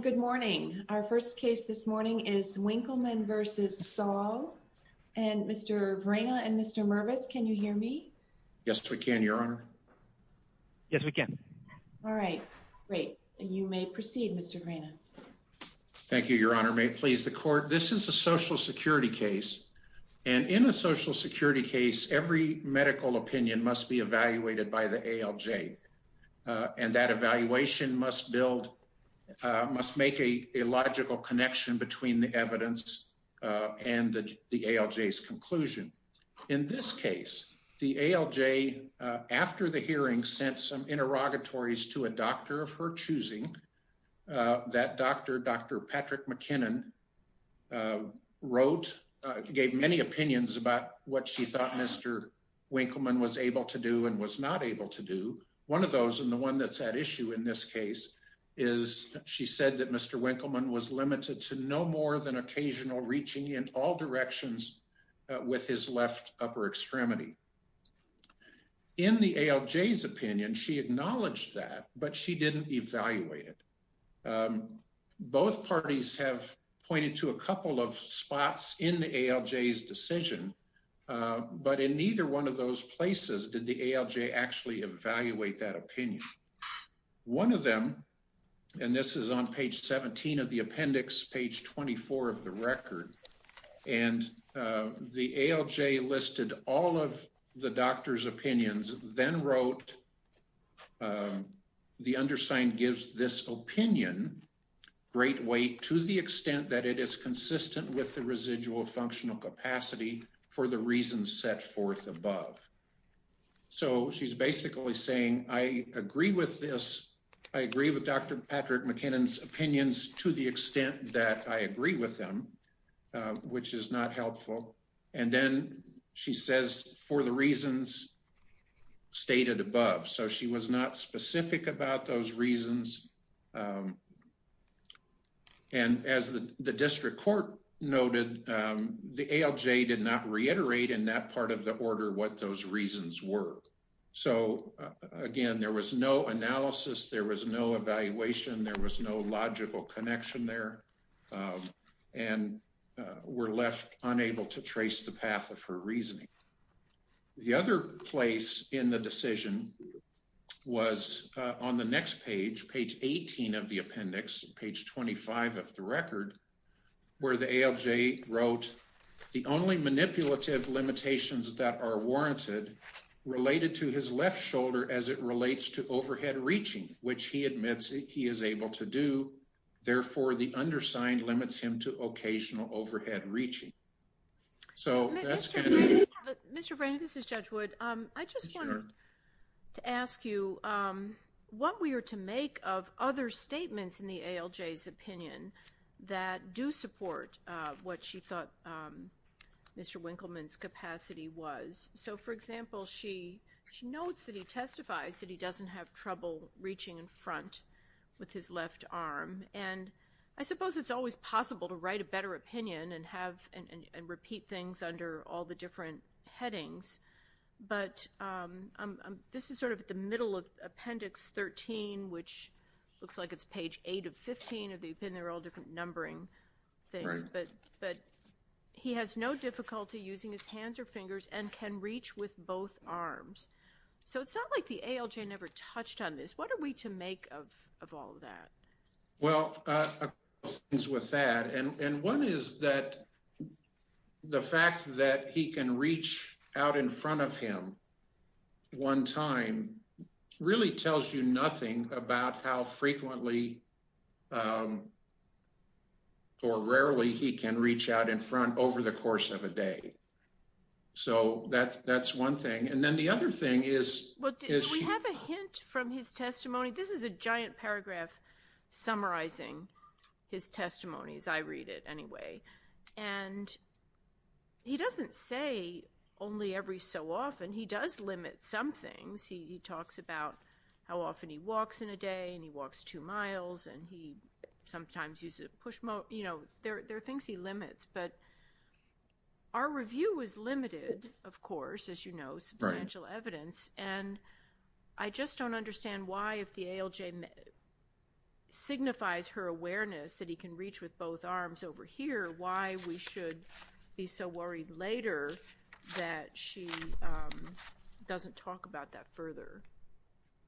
Good morning. Our first case this morning is Winkelman v. Saul. Mr. Vrena and Mr. Mervis, can you hear me? Yes, we can, Your Honor. Yes, we can. Great. You may proceed, Mr. Vrena. Thank you, Your Honor. May it please the Court. This is a Social Security case, and in a Social Security case, the evaluation must build, must make a logical connection between the evidence and the ALJ's conclusion. In this case, the ALJ, after the hearing, sent some interrogatories to a doctor of her choosing that Dr. Patrick McKinnon wrote, gave many opinions about what she thought Mr. Winkelman was able to do and was not able to do. One of those, and the one that's at issue in this case, is she said that Mr. Winkelman was limited to no more than occasional reaching in all directions with his left upper extremity. In the ALJ's opinion, she acknowledged that, but she didn't evaluate it. Both parties have pointed to a couple of spots in the ALJ's decision, but in neither one of those places did the ALJ actually evaluate that opinion. One of them, and this is on page 17 of the appendix, page 24 of the record, and the ALJ listed all of the doctor's opinions, then wrote, the undersigned gives this opinion, great weight, to the extent that it is consistent with the residual functional capacity for the reasons set forth above. So she's basically saying, I agree with this. I agree with Dr. Patrick McKinnon's opinions to the extent that I agree with them, which is not helpful. And then she says, for the reasons stated above. So she was not specific about those reasons. And as the district court noted, the ALJ did not reiterate in that part of the order what those reasons were. So again, there was no analysis, there was no evaluation, there was no logical connection there, and were left unable to trace the path of her reasoning. The other place in the decision was on the next page, page 18 of the appendix, page 25 of the record, where the ALJ wrote, the only manipulative limitations that are warranted related to his left shoulder as it relates to overhead reaching, which he admits he is able to do. Therefore, the undersigned limits him to occasional overhead reaching. Mr. Franny, this is Judge Wood. I just wanted to ask you what we are to make of other statements in the ALJ's opinion that do support what she thought Mr. Winkleman's capacity was. So, for example, she notes that he testifies that he doesn't have trouble reaching in front with his left arm. And I suppose it's always possible to write a better opinion and repeat things under all the different headings. But this is sort of at the middle of appendix 13, which looks like it's page 8 of 15 of the opinion. They're all different numbering things, but he has no difficulty using his hands or fingers and can reach with both arms. So it's not like the ALJ never touched on this. What are we to make of all of that? Well, with that, and one is that the fact that he can reach out in front of him one time really tells you nothing about how frequently or rarely he can reach out in front over the course of a day. So that's one thing. And then the other thing is... Well, do we have a hint from his testimony? This is a giant paragraph summarizing his testimony, as I read it anyway. And he doesn't say only every so often. He does limit some things. He talks about how often he walks in a day and he walks two miles and he sometimes uses a push motor. There are things he limits, but our review was limited, of course, as you know, substantial evidence. And I just don't understand why, if the ALJ signifies her awareness that he can reach with both arms over here, why we should be so worried later that she doesn't talk about that further.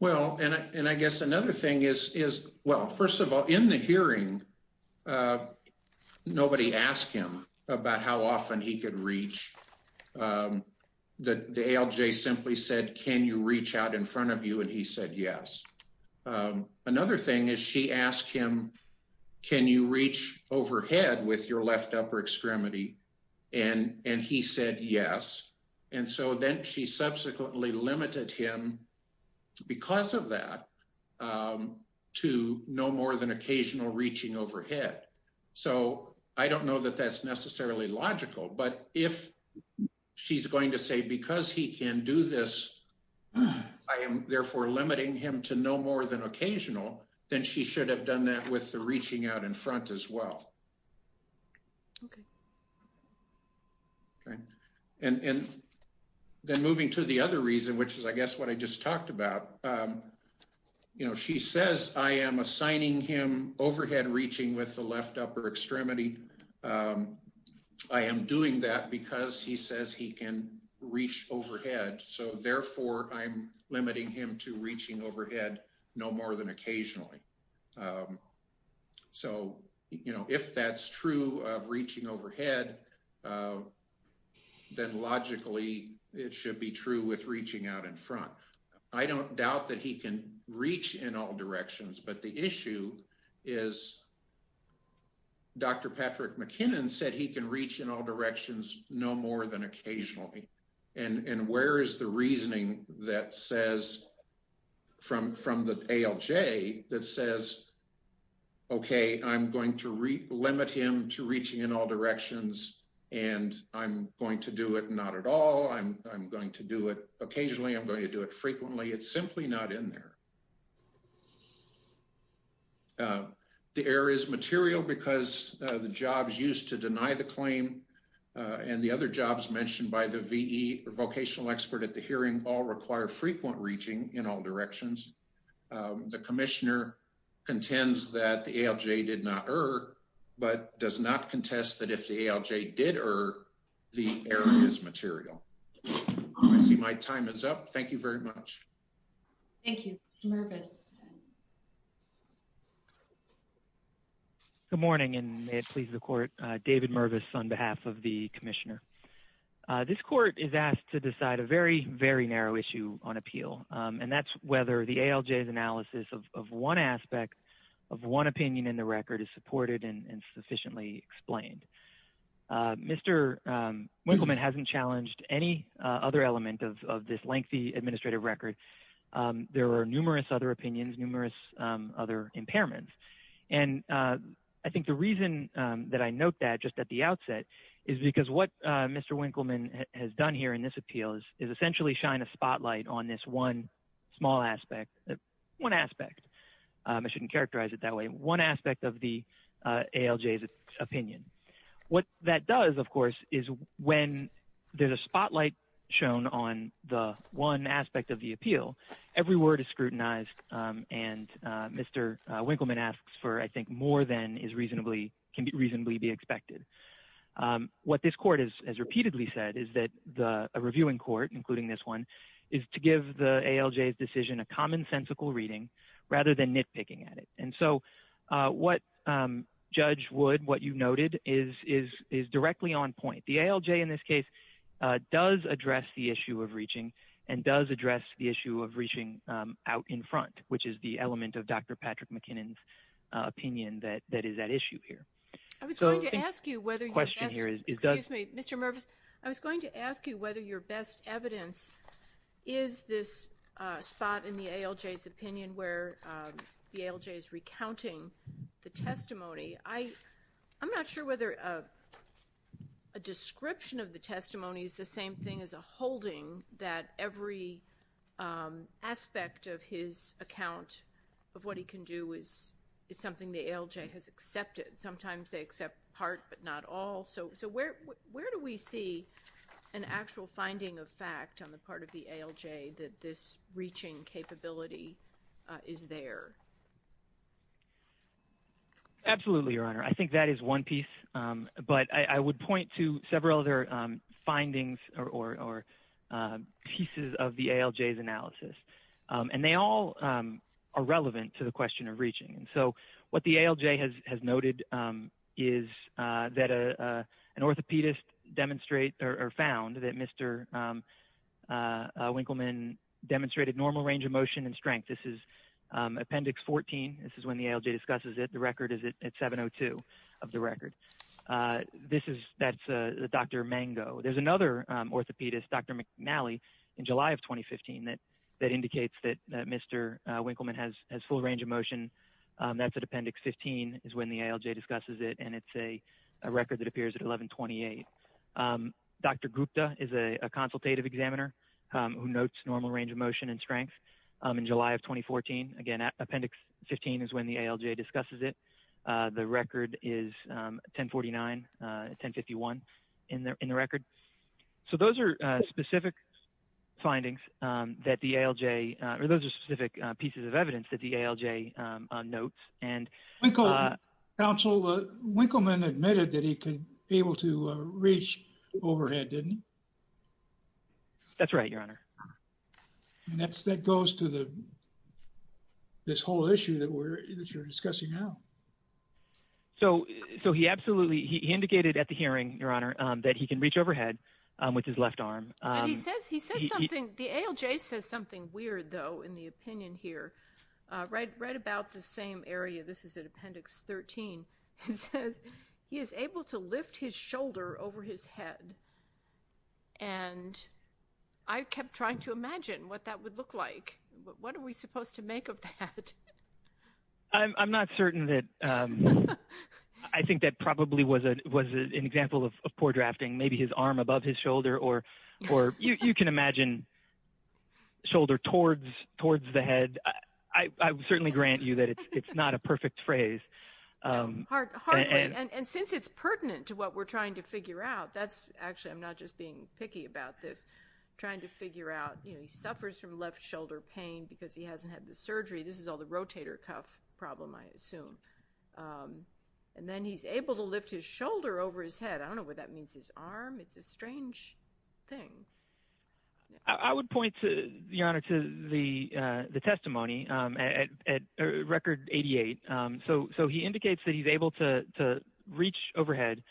Well, and I guess another thing is, well, first of all, in the hearing, nobody asked him about how often he could reach. The ALJ simply said, can you reach out in front of you? And he said, yes. Another thing is she asked him, can you reach overhead with your left upper extremity? And he said, yes. And so then she subsequently limited him because of that to no more than occasional reaching overhead. So I don't know that that's necessarily logical, but if she's going to say, because he can do this, I am therefore limiting him to no more than occasional, then she should have done that with the reaching out in front as well. Okay. And then moving to the other reason, which is, I guess, what I just talked about, you know, she says, I am assigning him overhead reaching with the left upper extremity. I am doing that because he says he can reach overhead. So therefore, I'm limiting him to reaching overhead no more than occasionally. So, you know, if that's true of reaching overhead. Then logically, it should be true with reaching out in front. I don't doubt that he can reach in all directions, but the issue is. Dr. Patrick McKinnon said he can reach in all directions, no more than occasionally. And where is the reasoning that says from the ALJ that says. Okay, I'm going to limit him to reaching in all directions, and I'm going to do it. Not at all. I'm going to do it occasionally. I'm going to do it frequently. It's simply not in there. The error is material because the jobs used to deny the claim and the other jobs mentioned by the VE vocational expert at the hearing all require frequent reaching in all directions. The Commissioner contends that the ALJ did not err, but does not contest that if the ALJ did err, the error is material. I see my time is up. Thank you very much. Thank you, Mr. Mervis. Good morning, and may it please the Court. David Mervis on behalf of the Commissioner. This Court is asked to decide a very, very narrow issue on appeal, and that's whether the ALJ's analysis of one aspect of one opinion in the record is supported and sufficiently explained. Mr. Winkleman hasn't challenged any other element of this lengthy administrative record. There are numerous other opinions, numerous other impairments. And I think the reason that I note that just at the outset is because what Mr. Winkleman has done here in this appeal is essentially shine a spotlight on this one small aspect. One aspect. I shouldn't characterize it that way. One aspect of the ALJ's opinion. What that does, of course, is when there's a spotlight shown on the one aspect of the appeal, every word is scrutinized, and Mr. Winkleman asks for, I think, more than can reasonably be expected. What this Court has repeatedly said is that a reviewing court, including this one, is to give the ALJ's decision a commonsensical reading rather than nitpicking at it. And so what Judge Wood, what you noted, is directly on point. The ALJ in this case does address the issue of reaching and does address the issue of reaching out in front, which is the element of Dr. Patrick McKinnon's opinion that is at issue here. I was going to ask you whether your best evidence is this spot in the ALJ's opinion where the ALJ is recounting the testimony. I'm not sure whether a description of the testimony is the same thing as a holding that every aspect of his account of what he can do is something the ALJ has accepted. Sometimes they accept part, but not all. So where do we see an actual finding of fact on the part of the ALJ that this reaching capability is there? Absolutely, Your Honor. I think that is one piece, but I would point to several other findings or pieces of the ALJ's analysis, and they all are relevant to the question of reaching. So what the ALJ has noted is that an orthopedist found that Mr. Winkleman demonstrated normal range of motion and strength. This is Appendix 14. This is when the ALJ discusses it. The record is at 702 of the record. This is Dr. Mango. There's another orthopedist, Dr. McNally, in July of 2015 that indicates that Mr. Winkleman has full range of motion. That's at Appendix 15 is when the ALJ discusses it, and it's a record that appears at 1128. Dr. Gupta is a consultative examiner who notes normal range of motion and strength in July of 2014. Again, Appendix 15 is when the ALJ discusses it. The record is 1049, 1051 in the record. So those are specific findings that the ALJ, or those are specific pieces of evidence that the ALJ notes. Counsel, Winkleman admitted that he was able to reach overhead, didn't he? That's right, Your Honor. And that goes to this whole issue that you're discussing now. So he absolutely, he indicated at the hearing, Your Honor, that he can reach overhead with his left arm. But he says, he says something, the ALJ says something weird, though, in the opinion here. Right about the same area, this is at Appendix 13, he says he is able to lift his shoulder over his head. And I kept trying to imagine what that would look like. What are we supposed to make of that? I'm not certain that, I think that probably was an example of poor drafting. Maybe his arm above his shoulder, or you can imagine shoulder towards the head. I certainly grant you that it's not a perfect phrase. Hardly, and since it's pertinent to what we're trying to figure out, that's actually, I'm not just being picky about this. I'm trying to figure out, you know, he suffers from left shoulder pain because he hasn't had the surgery. This is all the rotator cuff problem, I assume. And then he's able to lift his shoulder over his head. I don't know what that means, his arm. It's a strange thing. I would point, Your Honor, to the testimony at Record 88. So he indicates that he's able to reach overhead,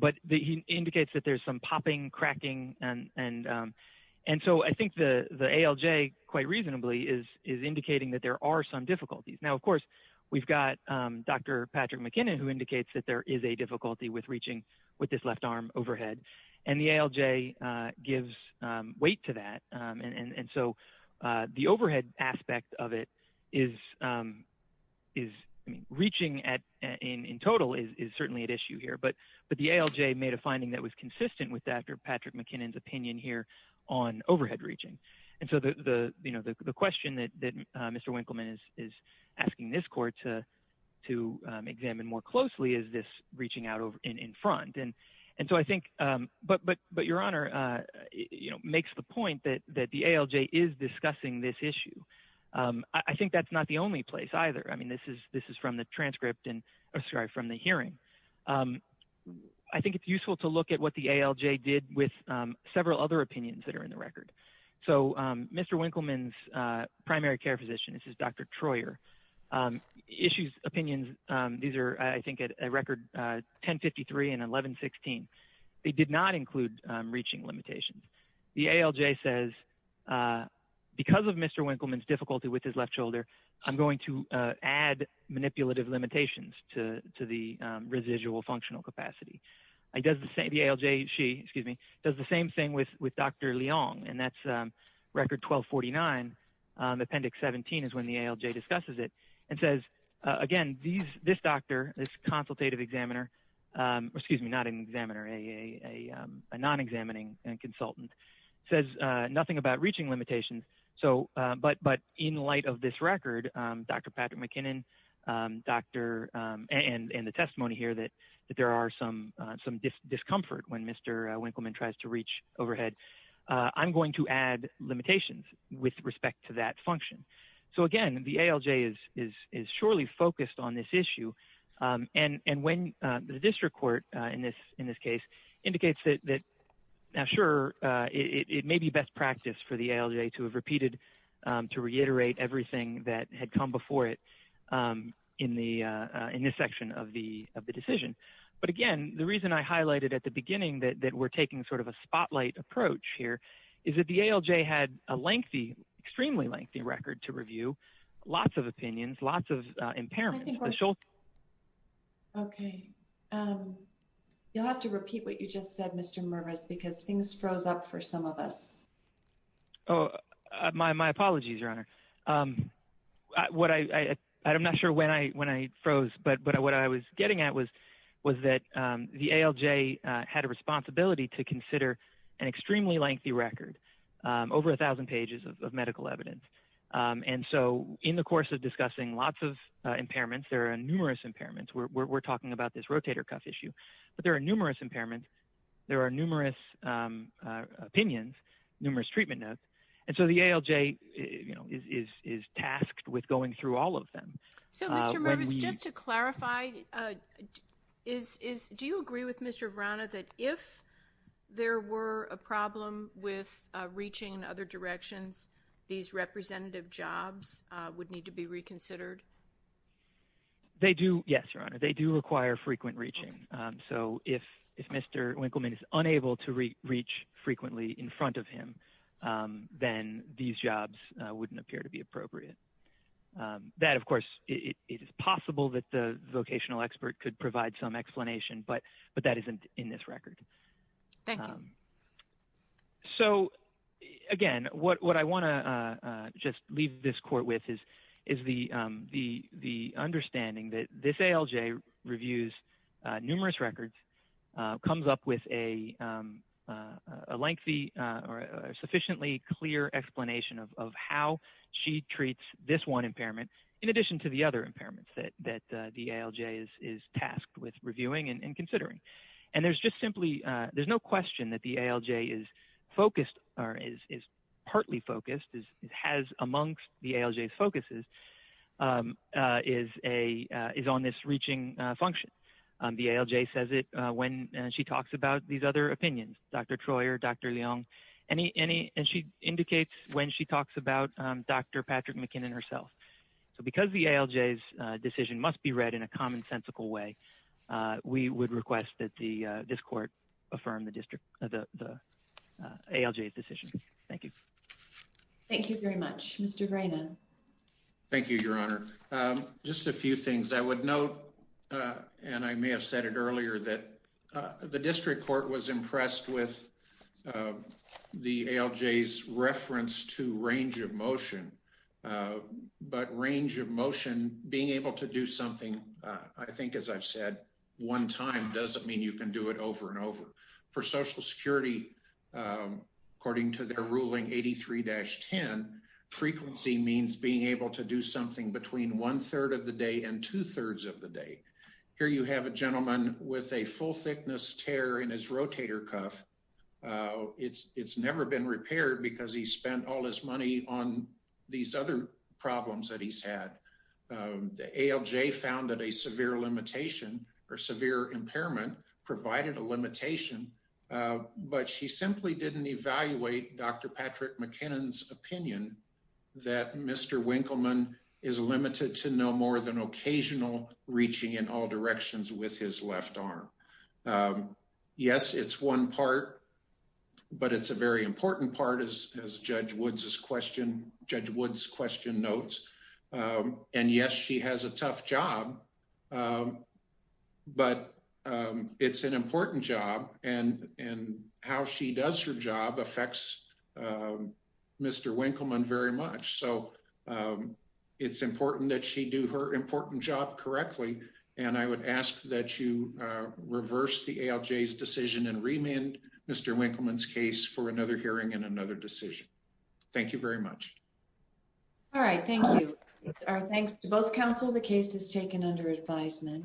but he indicates that there's some popping, cracking. And so I think the ALJ, quite reasonably, is indicating that there are some difficulties. Now, of course, we've got Dr. Patrick McKinnon, who indicates that there is a difficulty with reaching with this left arm overhead. And the ALJ gives weight to that. And so the overhead aspect of it is reaching in total is certainly at issue here. But the ALJ made a finding that was consistent with Dr. Patrick McKinnon's opinion here on overhead reaching. And so the question that Mr. Winkleman is asking this court to examine more closely is this reaching out in front. And so I think, but Your Honor makes the point that the ALJ is discussing this issue. I think that's not the only place either. I mean, this is from the transcript and from the hearing. I think it's useful to look at what the ALJ did with several other opinions that are in the record. So Mr. Winkleman's primary care physician, this is Dr. Troyer, issues opinions. These are, I think, a record 1053 and 1116. They did not include reaching limitations. The ALJ says because of Mr. Winkleman's difficulty with his left shoulder, I'm going to add manipulative limitations to the residual functional capacity. The ALJ, she, excuse me, does the same thing with Dr. Leong, and that's record 1249. Appendix 17 is when the ALJ discusses it and says, again, this doctor, this consultative examiner, excuse me, not an examiner, a non-examining consultant, says nothing about reaching limitations. But in light of this record, Dr. Patrick McKinnon and the testimony here that there are some discomfort when Mr. Winkleman tries to reach overhead, I'm going to add limitations with respect to that function. So, again, the ALJ is surely focused on this issue. And when the district court in this case indicates that, sure, it may be best practice for the ALJ to have repeated, to reiterate everything that had come before it in this section of the decision. But, again, the reason I highlighted at the beginning that we're taking sort of a spotlight approach here is that the ALJ had a lengthy, extremely lengthy record to review, lots of opinions, lots of impairments. Okay. You'll have to repeat what you just said, Mr. Mervis, because things froze up for some of us. I'm not sure when I froze. But what I was getting at was that the ALJ had a responsibility to consider an extremely lengthy record, over 1,000 pages of medical evidence. And so in the course of discussing lots of impairments, there are numerous impairments. We're talking about this rotator cuff issue. But there are numerous impairments. There are numerous opinions, numerous treatment notes. And so the ALJ is tasked with going through all of them. So, Mr. Mervis, just to clarify, do you agree with Mr. Vrana that if there were a problem with reaching other directions, these representative jobs would need to be reconsidered? They do, yes, Your Honor. They do require frequent reaching. So if Mr. Winkleman is unable to reach frequently in front of him, then these jobs wouldn't appear to be appropriate. That, of course, it is possible that the vocational expert could provide some explanation, but that isn't in this record. Thank you. So, again, what I want to just leave this court with is the understanding that this ALJ reviews numerous records, comes up with a lengthy or sufficiently clear explanation of how she treats this one impairment, in addition to the other impairments that the ALJ is tasked with reviewing and considering. And there's just simply no question that the ALJ is focused or is partly focused, has amongst the ALJ's focuses, is on this reaching function. The ALJ says it when she talks about these other opinions, Dr. Troyer, Dr. Leong, and she indicates when she talks about Dr. Patrick McKinnon herself. So because the ALJ's decision must be read in a commonsensical way, we would request that this court affirm the ALJ's decision. Thank you. Thank you very much. Mr. Greiner. Thank you, Your Honor. Just a few things I would note, and I may have said it earlier, that the district court was impressed with the ALJ's reference to range of motion. But range of motion, being able to do something, I think, as I've said one time, doesn't mean you can do it over and over. For Social Security, according to their ruling, 83-10, frequency means being able to do something between one third of the day and two thirds of the day. Here you have a gentleman with a full thickness tear in his rotator cuff. It's never been repaired because he spent all his money on these other problems that he's had. The ALJ found that a severe limitation or severe impairment provided a limitation, but she simply didn't evaluate Dr. Patrick McKinnon's opinion that Mr. Winkleman is limited to no more than occasional reaching in all directions with his left arm. Yes, it's one part, but it's a very important part, as Judge Woods' question notes. And yes, she has a tough job, but it's an important job, and how she does her job affects Mr. Winkleman very much. So it's important that she do her important job correctly, and I would ask that you reverse the ALJ's decision and remand Mr. Winkleman's case for another hearing and another decision. Thank you very much. All right, thank you. Thanks to both counsel, the case is taken under advisement.